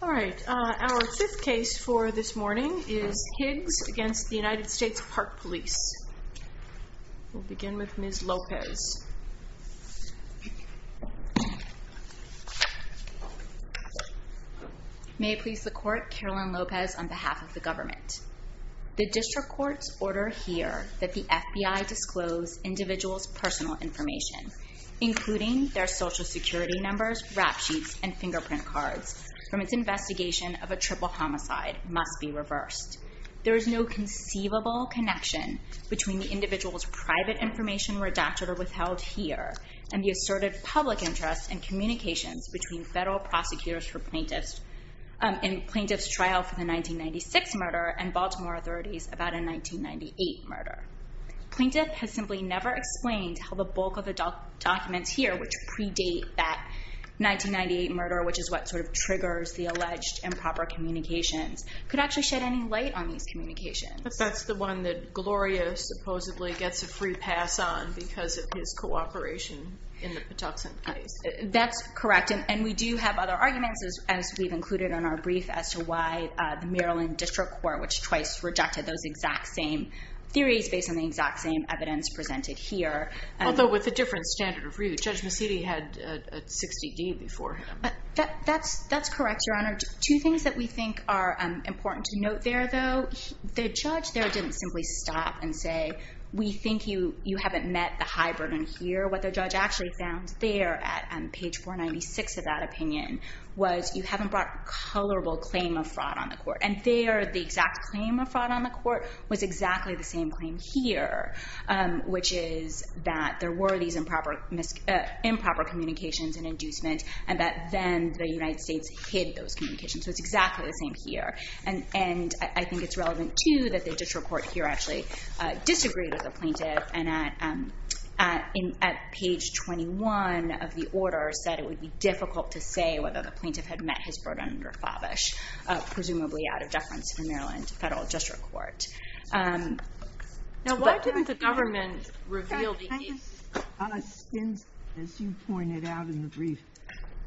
All right, our fifth case for this morning is Higgs v. United States Park Police. We'll The district courts order here that the FBI disclose individuals' personal information, including their social security numbers, rap sheets, and fingerprint cards, from its investigation of a triple homicide, must be reversed. There is no conceivable connection between the individual's private information redacted or withheld here and the asserted public interest in communications between federal prosecutors for plaintiffs in plaintiffs' trial for the 1996 murder and Baltimore authorities about a 1998 murder. Plaintiff has simply never explained how the bulk of the documents here, which predate that 1998 murder, which is what sort of triggers the alleged improper communications, could actually shed any light on these communications. But that's the one that Gloria supposedly gets a free pass on because of his cooperation in the Patuxent case. That's correct. And we do have other arguments, as we've included in our brief, as to why the Maryland District Court, which twice rejected those exact same theories based on the exact same evidence presented here. Although with a different standard of review. Judge Mecidi had a 60-D before him. That's correct, Your Honor. Two things that we think are important to note there, though. The judge there didn't simply stop and say, we think you haven't met the high burden here. What the judge actually found there at page 496 of that opinion was you haven't brought colorable claim of fraud on the court. And there, the exact claim of fraud on the court was exactly the same claim here, which is that there were these improper communications and inducement and that then the United States hid those communications. So it's exactly the same here. And I think it's relevant, too, that the district court here actually disagreed with the plaintiff. And at page 21 of the order said it would be difficult to say whether the plaintiff had met his burden under Favish, presumably out of deference to the Maryland Federal District Court. Now, why didn't the government reveal the case? Justice Ginsburg, as you pointed out in the brief,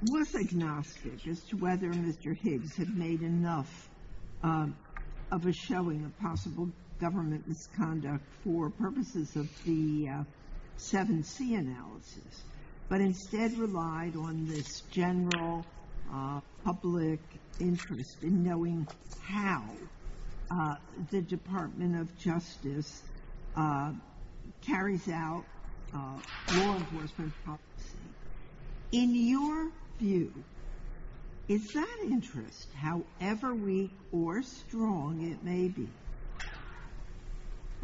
was agnostic as to whether Mr. Higgs had made enough of a showing of possible government misconduct for purposes of the 7C analysis, but instead relied on this general public interest in knowing how the Department of Justice carries out law enforcement policy. In your view, is that interest, however weak or strong it may be,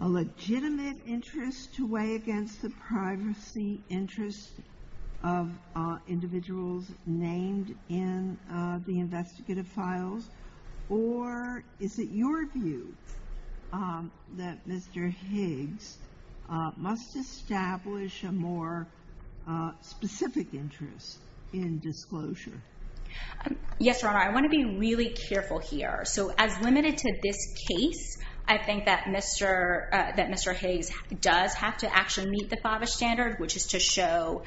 a legitimate interest to weigh against the privacy interest of individuals named in the investigative files? Or is it your view that Mr. Higgs must establish a more specific interest in disclosure? Yes, Your Honor, I want to be really careful here. So as limited to this case, I think that Mr. Higgs does have to actually meet the Favish standard, which is to show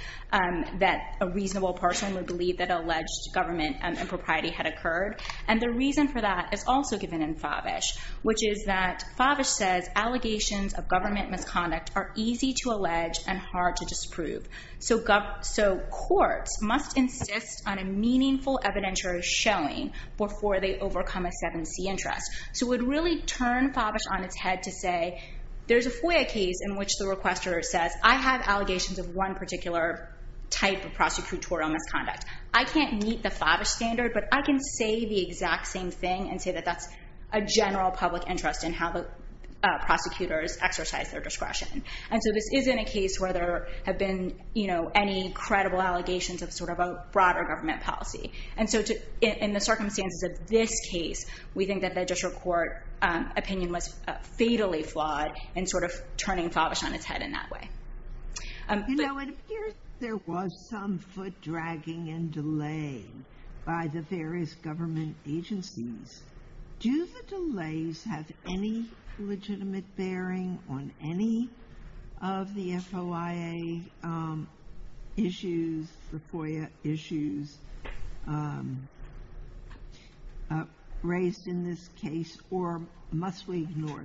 that a reasonable person would believe that alleged government impropriety had occurred. And the reason for that is also given in Favish, which is that Favish says allegations of government misconduct are easy to allege and hard to disprove. So courts must insist on a meaningful evidentiary showing before they overcome a 7C interest. So it would really turn Favish on its head to say, there's a FOIA case in which the requester says, I have allegations of one particular type of prosecutorial misconduct. I can't meet the Favish standard, but I can say the exact same thing and say that that's a general public interest in how the prosecutors exercise their discretion. And so this isn't a case where there have been any credible allegations of sort of a broader government policy. And so in the circumstances of this case, we think that the district court opinion was fatally flawed in sort of turning Favish on its head in that way. You know, it appears there was some foot dragging and delay by the various government agencies. Do the delays have any legitimate bearing on any of the FOIA issues raised in this case, or must we ignore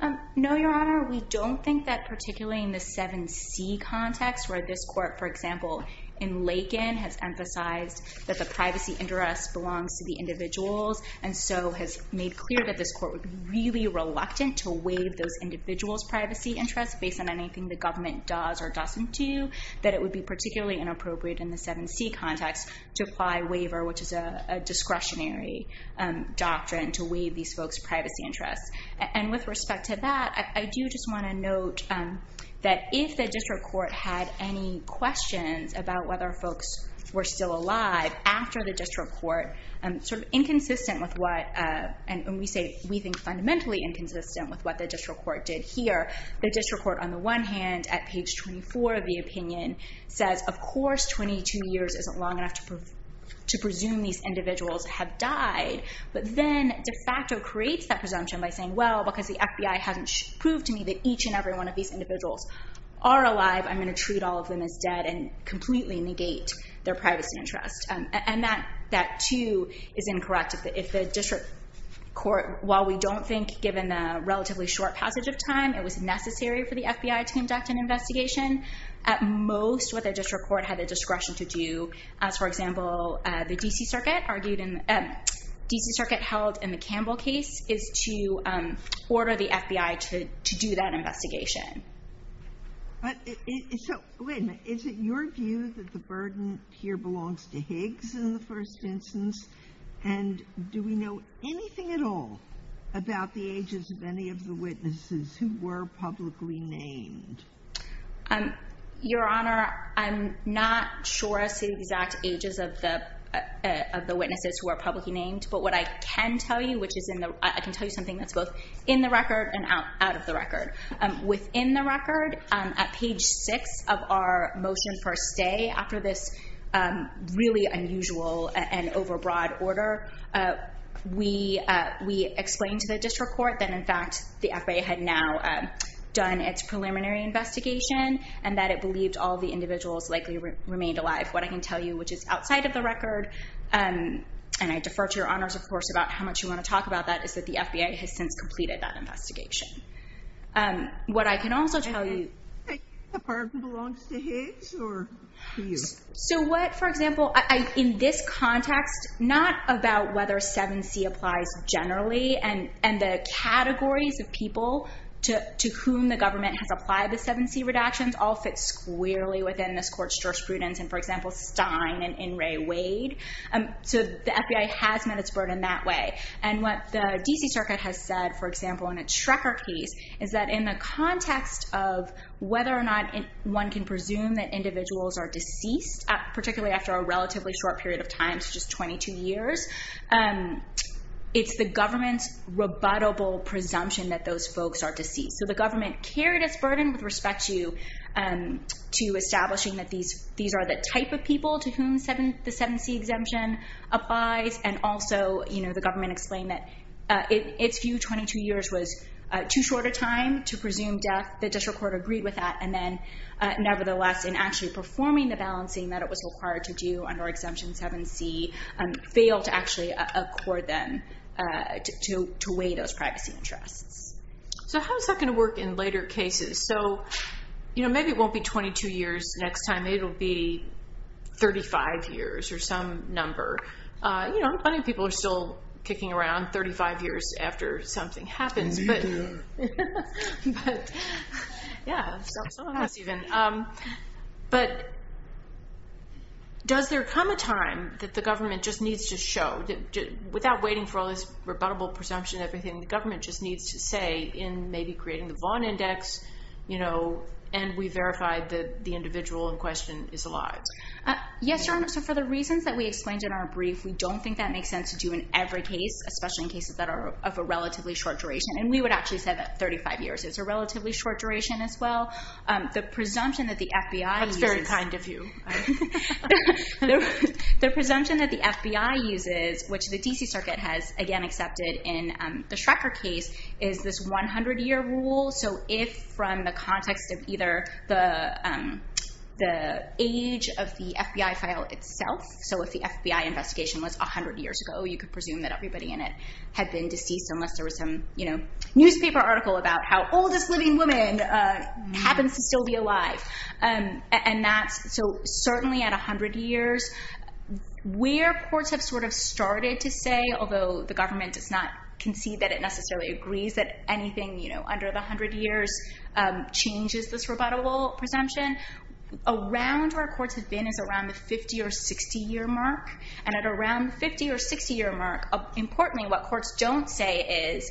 them? No, Your Honor. We don't think that, particularly in the 7C context, where this court, for example, in Lakin, has emphasized that the privacy interest belongs to the individuals, and so has made clear that this court would be really reluctant to waive those individuals' privacy interests based on anything the government does or doesn't do, that it would be particularly inappropriate in the 7C context to apply waiver, which is a discretionary doctrine, to waive these folks' privacy interests. And with respect to that, I do just want to note that if the district court had any questions about whether folks were still alive after the district court, sort of inconsistent with what, and we say we think fundamentally inconsistent with what the district court did here, the district court, on the one hand, at page 24 of the opinion, says, of course, 22 years isn't long enough to presume these individuals have died. But then de facto creates that presumption by saying, well, because the FBI hasn't proved to me that each and every one of these individuals are alive, I'm going to treat all of them as dead and completely negate their privacy interests. And that, too, is incorrect. If the district court, while we don't think, given the relatively short passage of time, it was necessary for the FBI to conduct an investigation, at most what the district court had the discretion to do, as, for example, the D.C. Circuit held in the Campbell case, is to order the FBI to do that investigation. So, wait a minute. Is it your view that the burden here belongs to Higgs in the first instance? And do we know anything at all about the ages of any of the witnesses who were publicly named? Your Honor, I'm not sure as to the exact ages of the witnesses who were publicly named. But what I can tell you, which is I can tell you something that's both in the record and out of the record. Within the record, at page 6 of our motion for a stay after this really unusual and overbroad order, we explained to the district court that, in fact, the FBI had now done its preliminary investigation and that it believed all the individuals likely remained alive. What I can tell you, which is outside of the record, and I defer to your honors, of course, about how much you want to talk about that, is that the FBI has since completed that investigation. What I can also tell you— The burden belongs to Higgs or to you? So what, for example, in this context, not about whether 7C applies generally and the categories of people to whom the government has applied the 7C redactions all fit squarely within this court's jurisprudence, and, for example, Stein and In re Wade. So the FBI has met its burden that way. And what the D.C. Circuit has said, for example, in a Trecker case, is that in the context of whether or not one can presume that individuals are deceased, particularly after a relatively short period of time, such as 22 years, it's the government's rebuttable presumption that those folks are deceased. So the government carried its burden with respect to establishing that these are the type of people to whom the 7C exemption applies. And also the government explained that its view, 22 years was too short a time to presume death. The district court agreed with that. And then nevertheless, in actually performing the balancing that it was required to do under Exemption 7C, failed to actually accord them to weigh those privacy interests. So how is that going to work in later cases? So maybe it won't be 22 years next time. Maybe it will be 35 years or some number. You know, plenty of people are still kicking around 35 years after something happens. But, yeah, some of us even. But does there come a time that the government just needs to show, without waiting for all this rebuttable presumption and everything, the government just needs to say in maybe creating the Vaughan Index, you know, and we verify that the individual in question is alive? Yes, Your Honor. So for the reasons that we explained in our brief, we don't think that makes sense to do in every case, especially in cases that are of a relatively short duration. And we would actually say that 35 years is a relatively short duration as well. The presumption that the FBI uses. That's very kind of you. The presumption that the FBI uses, which the D.C. Circuit has, again, accepted in the Schrecker case, is this 100-year rule. So if from the context of either the age of the FBI file itself, so if the FBI investigation was 100 years ago, you could presume that everybody in it had been deceased unless there was some, you know, newspaper article about how oldest living woman happens to still be alive. And that's so certainly at 100 years, where courts have sort of started to say, although the government does not concede that it necessarily agrees that anything, you know, under the 100 years changes this rebuttable presumption, around where courts have been is around the 50 or 60-year mark. And at around the 50 or 60-year mark, importantly, what courts don't say is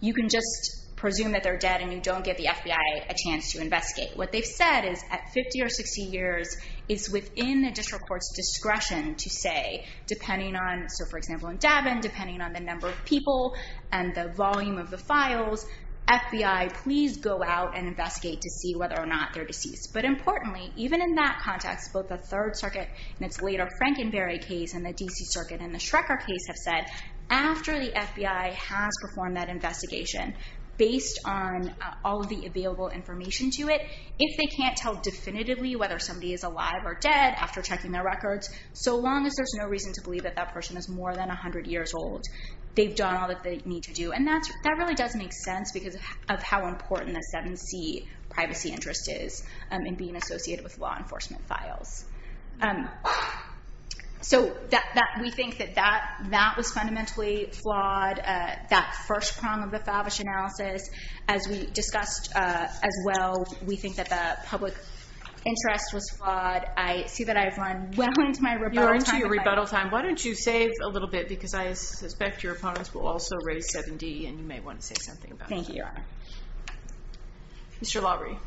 you can just presume that they're dead and you don't give the FBI a chance to investigate. What they've said is at 50 or 60 years is within the district court's discretion to say, depending on, so for example, in Daven, depending on the number of people and the volume of the files, FBI, please go out and investigate to see whether or not they're deceased. But importantly, even in that context, both the Third Circuit in its later Frankenberry case and the D.C. Circuit in the Schrecker case have said, after the FBI has performed that investigation, based on all of the available information to it, if they can't tell definitively whether somebody is alive or dead after checking their records, so long as there's no reason to believe that that person is more than 100 years old, they've done all that they need to do. And that really does make sense because of how important a 7C privacy interest is in being associated with law enforcement files. So we think that that was fundamentally flawed, that first prong of the Favish analysis. As we discussed as well, we think that the public interest was flawed. But I see that I've run well into my rebuttal time. You're into your rebuttal time. Why don't you save a little bit because I suspect your opponents will also raise 7D, and you may want to say something about that. Thank you, Your Honor. Mr. Laurie.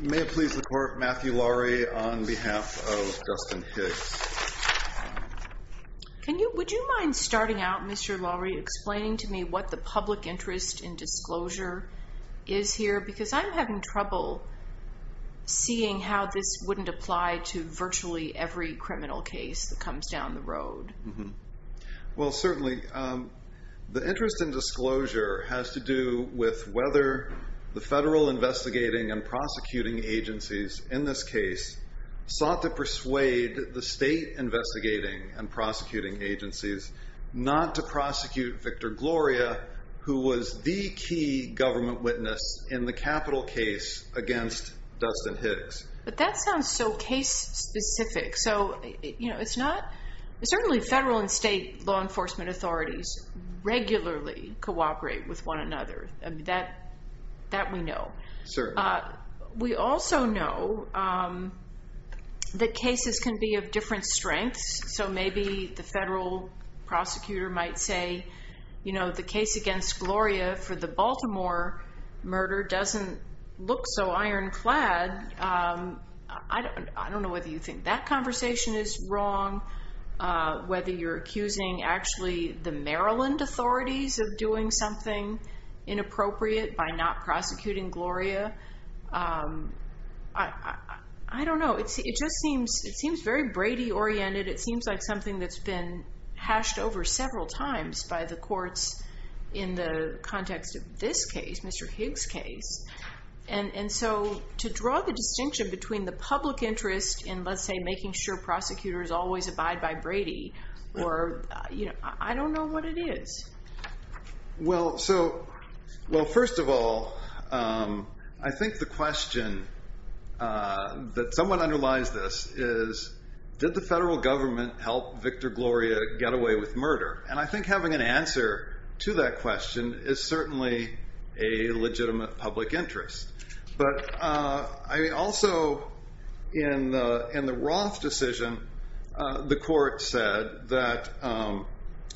May it please the Court, Matthew Laurie on behalf of Justin Hicks. Would you mind starting out, Mr. Laurie, explaining to me what the public interest in disclosure is here? Because I'm having trouble seeing how this wouldn't apply to virtually every criminal case that comes down the road. Well, certainly the interest in disclosure has to do with whether the federal investigating and prosecuting agencies in this case sought to persuade the state investigating and prosecuting agencies not to prosecute Victor Gloria, who was the key government witness in the Capitol case against Dustin Hicks. But that sounds so case-specific. So it's not – certainly federal and state law enforcement authorities regularly cooperate with one another. That we know. Certainly. We also know that cases can be of different strengths. So maybe the federal prosecutor might say, you know, the case against Gloria for the Baltimore murder doesn't look so ironclad. I don't know whether you think that conversation is wrong, whether you're accusing actually the Maryland authorities of doing something inappropriate by not prosecuting Gloria. I don't know. It just seems very Brady-oriented. It seems like something that's been hashed over several times by the courts in the context of this case, Mr. Hicks' case. And so to draw the distinction between the public interest in, let's say, making sure prosecutors always abide by Brady, I don't know what it is. Well, first of all, I think the question that somewhat underlies this is, did the federal government help Victor Gloria get away with murder? And I think having an answer to that question is certainly a legitimate public interest. But also in the Roth decision, the court said that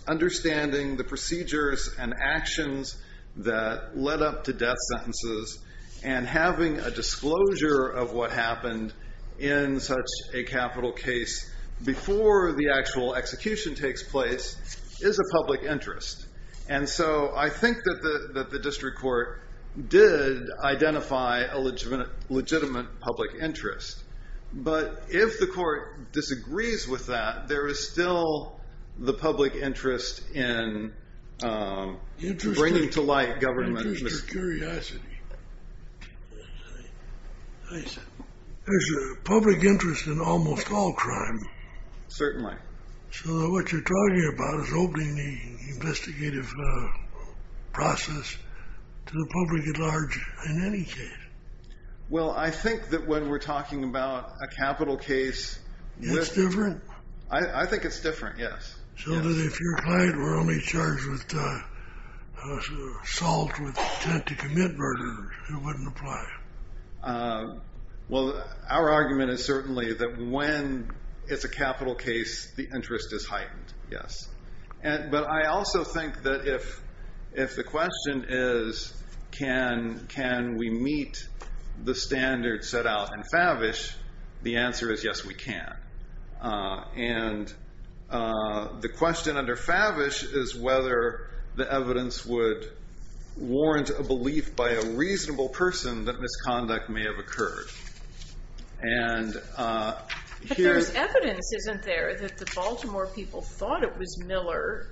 understanding the procedures and actions that led up to death sentences and having a disclosure of what happened in such a capital case before the actual execution takes place is a public interest. And so I think that the district court did identify a legitimate public interest. But if the court disagrees with that, there is still the public interest in bringing to light government. Interesting. In case you're curious. There's a public interest in almost all crime. Certainly. So what you're talking about is opening the investigative process to the public at large in any case. Well, I think that when we're talking about a capital case- It's different? I think it's different, yes. So if your client were only charged with assault with intent to commit murder, it wouldn't apply? Well, our argument is certainly that when it's a capital case, the interest is heightened, yes. But I also think that if the question is can we meet the standards set out in Favish, the answer is yes, we can. And the question under Favish is whether the evidence would warrant a belief by a reasonable person that misconduct may have occurred. But there's evidence, isn't there, that the Baltimore people thought it was Miller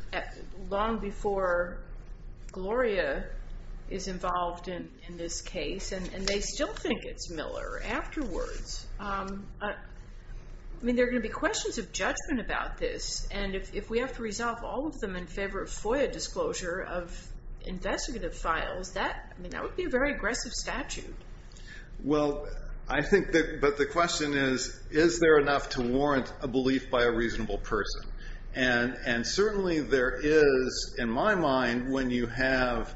long before Gloria is involved in this case, and they still think it's Miller afterwards. I mean, there are going to be questions of judgment about this, and if we have to resolve all of them in favor of FOIA disclosure of investigative files, that would be a very aggressive statute. Well, I think that the question is, is there enough to warrant a belief by a reasonable person? And certainly there is, in my mind, when you have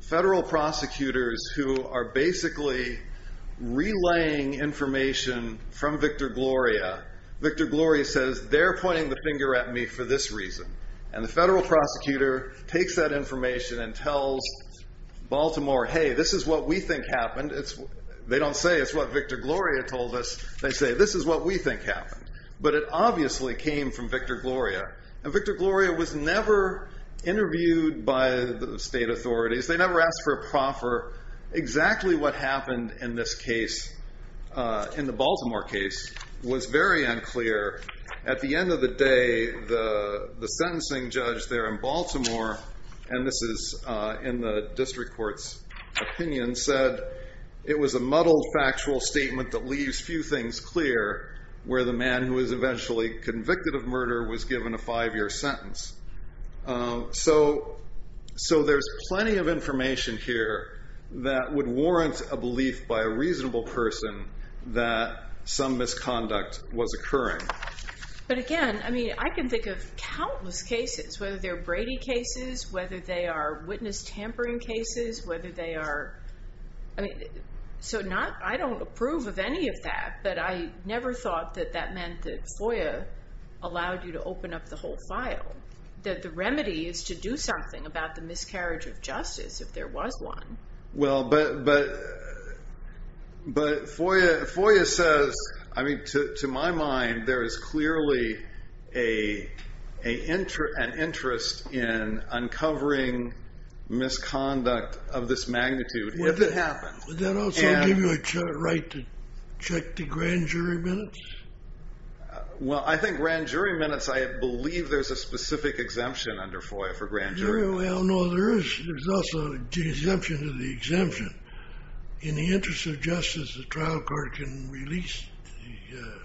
federal prosecutors who are basically relaying information from Victor Gloria. Victor Gloria says, they're pointing the finger at me for this reason. And the federal prosecutor takes that information and tells Baltimore, hey, this is what we think happened. They don't say it's what Victor Gloria told us. They say, this is what we think happened. But it obviously came from Victor Gloria. And Victor Gloria was never interviewed by the state authorities. They never asked for a proffer. Exactly what happened in this case, in the Baltimore case, was very unclear. At the end of the day, the sentencing judge there in Baltimore, and this is in the district court's opinion, said it was a muddled, factual statement that leaves few things clear, where the man who was eventually convicted of murder was given a five-year sentence. So there's plenty of information here that would warrant a belief by a reasonable person that some misconduct was occurring. But again, I mean, I can think of countless cases, whether they're Brady cases, whether they are witness tampering cases, whether they are, I mean, so I don't approve of any of that. But I never thought that that meant that FOIA allowed you to open up the whole file, that the remedy is to do something about the miscarriage of justice if there was one. Well, but FOIA says, I mean, to my mind, there is clearly an interest in uncovering misconduct of this magnitude, if it happens. Would that also give you a right to check the grand jury minutes? Well, I think grand jury minutes, I believe there's a specific exemption under FOIA for grand jury minutes. Well, no, there is. There's also an exemption to the exemption. In the interest of justice, the trial court can release the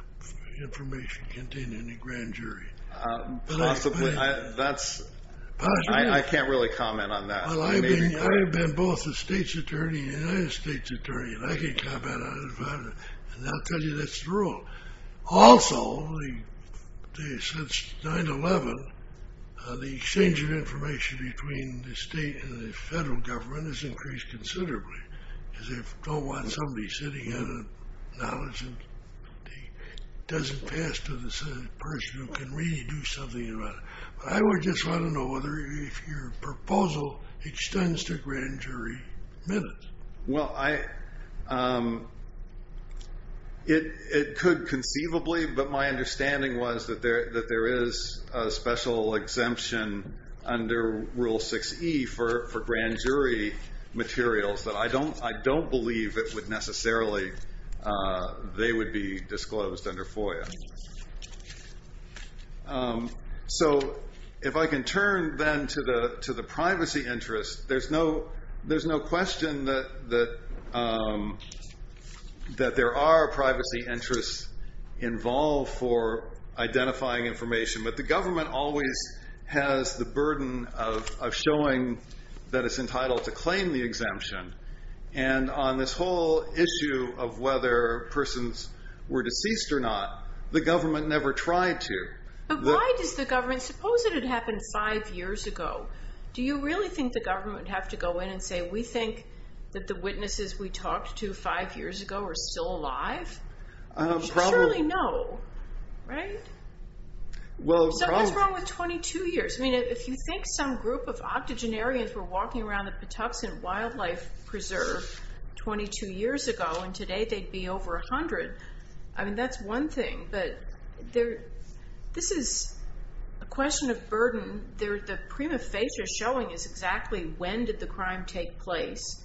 information contained in the grand jury. Possibly. I can't really comment on that. Well, I've been both a state's attorney and a United States attorney, and I can comment on it. And I'll tell you that's the rule. Also, since 9-11, the exchange of information between the state and the federal government has increased considerably. Because they don't want somebody sitting in and acknowledging. It doesn't pass to the person who can really do something about it. I would just want to know if your proposal extends to grand jury minutes. Well, it could conceivably, but my understanding was that there is a special exemption under Rule 6E for grand jury materials. But I don't believe it would necessarily, they would be disclosed under FOIA. So if I can turn then to the privacy interest, there's no question that there are privacy interests involved for identifying information. But the government always has the burden of showing that it's entitled to claim the exemption. And on this whole issue of whether persons were deceased or not, the government never tried to. But why does the government, suppose it had happened five years ago. Do you really think the government would have to go in and say, we think that the witnesses we talked to five years ago are still alive? You surely know, right? So what's wrong with 22 years? I mean, if you think some group of octogenarians were walking around the Patuxent Wildlife Preserve 22 years ago, and today they'd be over 100. I mean, that's one thing. But this is a question of burden. The prima facie showing is exactly when did the crime take place.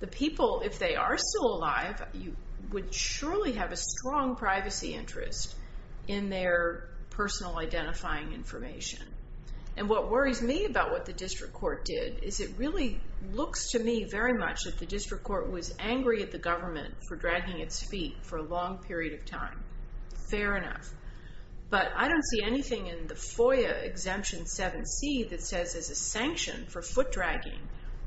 The people, if they are still alive, would surely have a strong privacy interest in their personal identifying information. And what worries me about what the district court did is it really looks to me very much that the district court was angry at the government for dragging its feet for a long period of time. Fair enough. But I don't see anything in the FOIA exemption 7C that says as a sanction for foot dragging,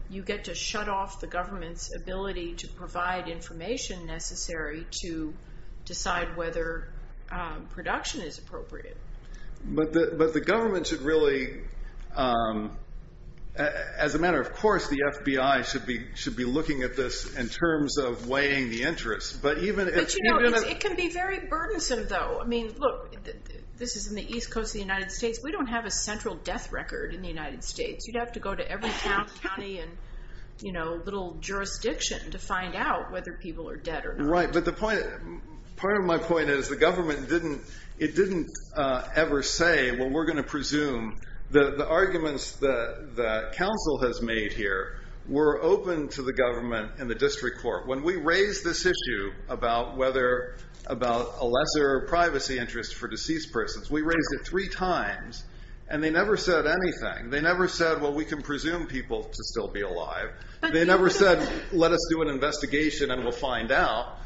you get to shut off the government's ability to provide information necessary to decide whether production is appropriate. But the government should really, as a matter of course, the FBI should be looking at this in terms of weighing the interest. But you know, it can be very burdensome, though. I mean, look, this is in the east coast of the United States. We don't have a central death record in the United States. You'd have to go to every county and little jurisdiction to find out whether people are dead or not. Right, but part of my point is the government didn't ever say, well, we're going to presume. The arguments that counsel has made here were open to the government and the district court. When we raised this issue about a lesser privacy interest for deceased persons, we raised it three times, and they never said anything. They never said, well, we can presume people to still be alive. They never said, let us do an investigation and we'll find out.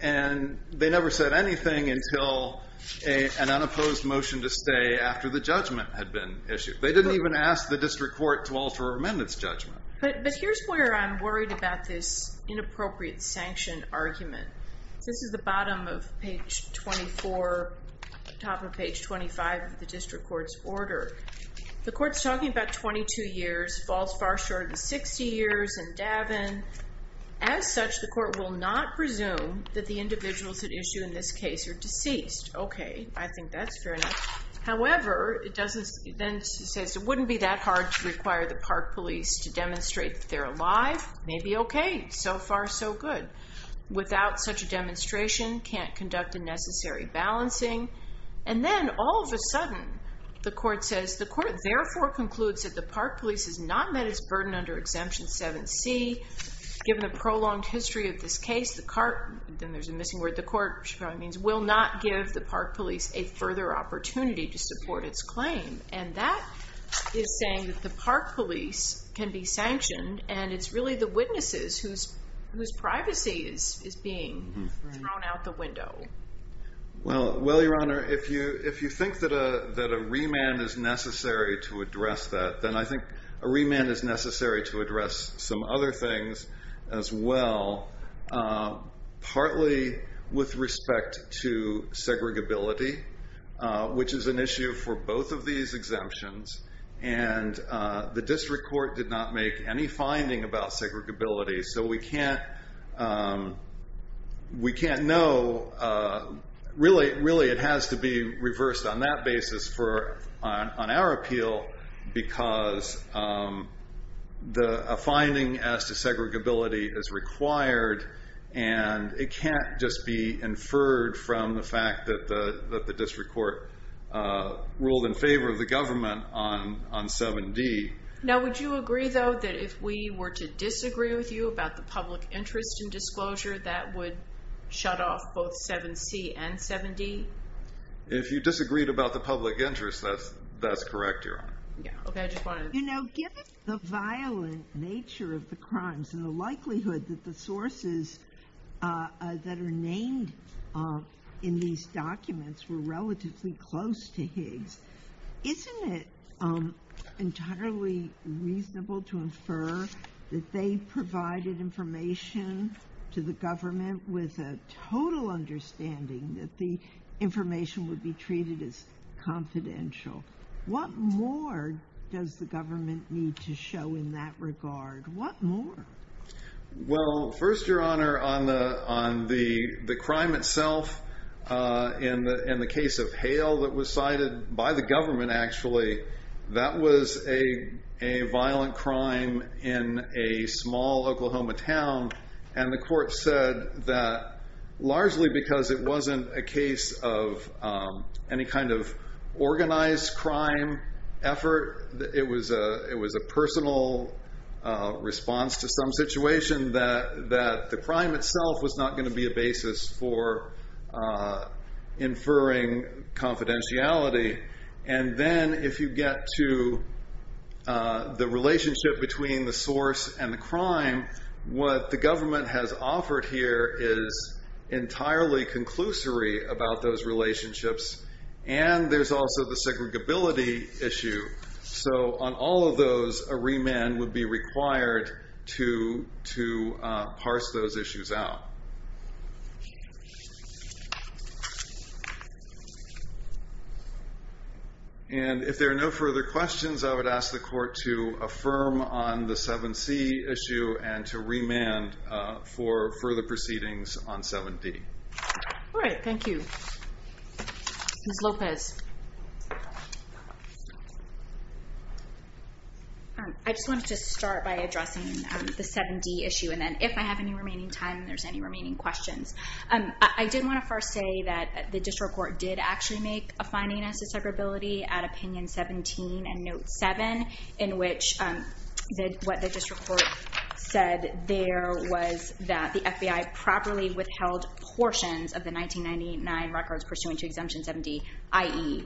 And they never said anything until an unopposed motion to stay after the judgment had been issued. They didn't even ask the district court to alter or amend its judgment. But here's where I'm worried about this inappropriate sanction argument. This is the bottom of page 24, top of page 25 of the district court's order. The court's talking about 22 years, falls far short in 60 years, and Davin. As such, the court will not presume that the individuals at issue in this case are deceased. OK, I think that's fair enough. However, it then says, it wouldn't be that hard to require the park police to demonstrate that they're alive. Maybe OK. So far, so good. Without such a demonstration, can't conduct a necessary balancing. And then, all of a sudden, the court says, the court therefore concludes that the park police has not met its burden under Exemption 7c. Given the prolonged history of this case, the court will not give the park police a further opportunity to support its claim. And that is saying that the park police can be sanctioned. And it's really the witnesses whose privacy is being thrown out the window. Well, your honor, if you think that a remand is necessary to address that, then I think a remand is necessary to address some other things as well. Partly with respect to segregability, which is an issue for both of these exemptions. And the district court did not make any finding about segregability. So we can't know. Really, it has to be reversed on that basis on our appeal. Because a finding as to segregability is required. And it can't just be inferred from the fact that the district court ruled in favor of the government on 7d. Now, would you agree, though, that if we were to disagree with you about the public interest in disclosure, that would shut off both 7c and 7d? If you disagreed about the public interest, that's correct, your honor. You know, given the violent nature of the crimes and the likelihood that the sources that are named in these documents were relatively close to Higgs, isn't it entirely reasonable to infer that they provided information to the government with a total understanding that the information would be treated as confidential? What more does the government need to show in that regard? What more? Well, first, your honor, on the crime itself, in the case of Hale that was cited by the government, actually, that was a violent crime in a small Oklahoma town. And the court said that largely because it wasn't a case of any kind of organized crime effort, it was a personal response to some situation that the crime itself was not going to be a basis for inferring confidentiality. And then if you get to the relationship between the source and the crime, what the government has offered here is entirely conclusory about those relationships. And there's also the segregability issue. So on all of those, a remand would be required to parse those issues out. And if there are no further questions, I would ask the court to affirm on the 7C issue and to remand for further proceedings on 7D. All right. Thank you. Ms. Lopez. I just wanted to start by addressing the 7D issue, and then if I have any remaining time, if there's any remaining questions. I did want to first say that the district court did actually make a finding as to segregability at opinion 17 and note 7, in which what the district court said there was that the FBI properly withheld portions of the 1999 records pursuant to Exemption 7D, i.e.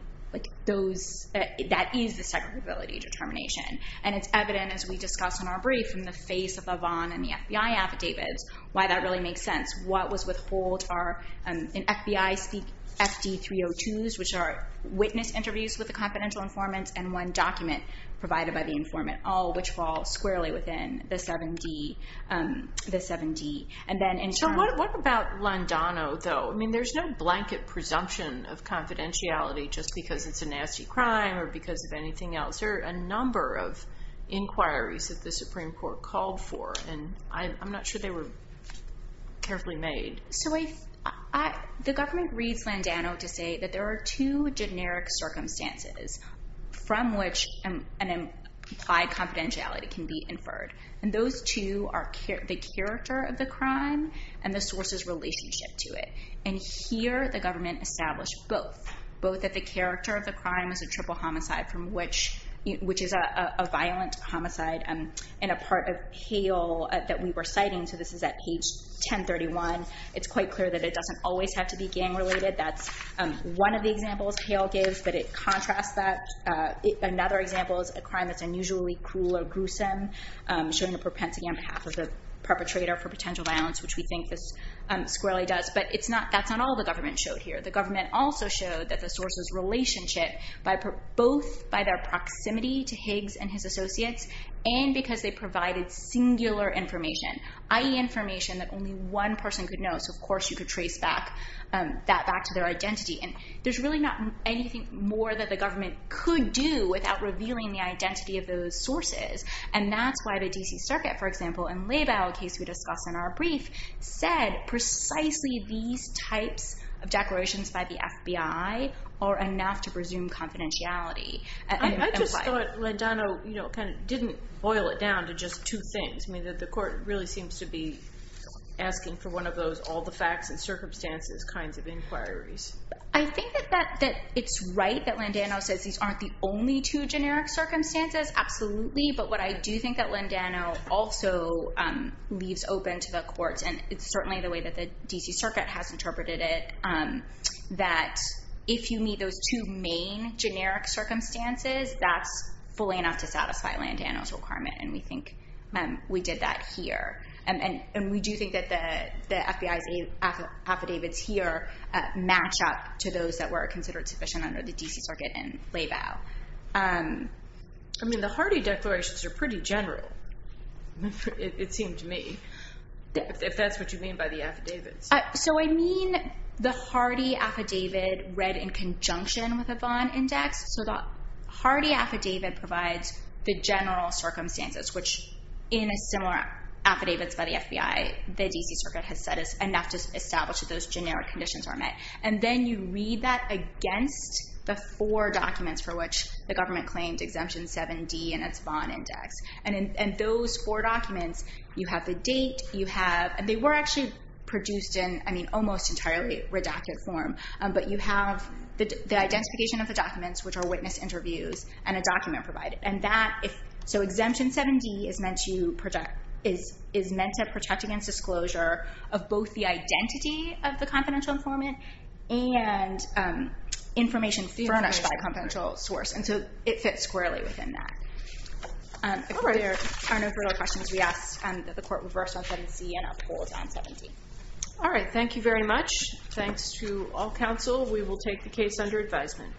that is the segregability determination. And it's evident, as we discussed in our brief, in the face of the Vaughn and the FBI affidavits, why that really makes sense. What was withheld are, in FBI speak, FD302s, which are witness interviews with the confidential informants, and one document provided by the informant, all which fall squarely within the 7D. So what about Landano, though? I mean, there's no blanket presumption of confidentiality just because it's a nasty crime or because of anything else. There are a number of inquiries that the Supreme Court called for, and I'm not sure they were carefully made. So the government reads Landano to say that there are two generic circumstances from which an implied confidentiality can be inferred. And those two are the character of the crime and the source's relationship to it. And here, the government established both, both that the character of the crime is a triple homicide, which is a violent homicide and a part of Hale that we were citing. So this is at page 1031. It's quite clear that it doesn't always have to be gang-related. That's one of the examples Hale gives, but it contrasts that. Another example is a crime that's unusually cruel or gruesome, showing a propensity on behalf of the perpetrator for potential violence, which we think this squarely does. But that's not all the government showed here. The government also showed that the source's relationship, both by their proximity to Higgs and his associates and because they provided singular information, i.e., information that only one person could know. So, of course, you could trace that back to their identity. And there's really not anything more that the government could do without revealing the identity of those sources. And that's why the D.C. Circuit, for example, in Label, a case we discussed in our brief, said precisely these types of declarations by the FBI are enough to presume confidentiality. And why? I just thought Landano kind of didn't boil it down to just two things. I mean, that the court really seems to be asking for one of those all-the-facts-and-circumstances kinds of inquiries. I think that it's right that Landano says these aren't the only two generic circumstances. Absolutely. But what I do think that Landano also leaves open to the courts, and it's certainly the way that the D.C. Circuit has interpreted it, that if you meet those two main generic circumstances, that's fully enough to satisfy Landano's requirement. And we think we did that here. And we do think that the FBI's affidavits here match up to those that were considered sufficient under the D.C. Circuit and Label. I mean, the Hardy declarations are pretty general, it seemed to me, if that's what you mean by the affidavits. So I mean the Hardy affidavit read in conjunction with a Vaughn index. So the Hardy affidavit provides the general circumstances, which in a similar affidavits by the FBI, the D.C. Circuit has said is enough to establish that those generic conditions are met. And then you read that against the four documents for which the government claimed Exemption 7D and its Vaughn index. And in those four documents, you have the date, you have – and they were actually produced in, I mean, almost entirely redacted form. But you have the identification of the documents, which are witness interviews, and a document provided. So Exemption 7D is meant to protect against disclosure of both the identity of the confidential informant and information furnished by a confidential source. And so it fits squarely within that. If there are no further questions, we ask that the Court reverse on 7C and uphold on 7D. All right. Thank you very much. Thanks to all counsel. We will take the case under advisement.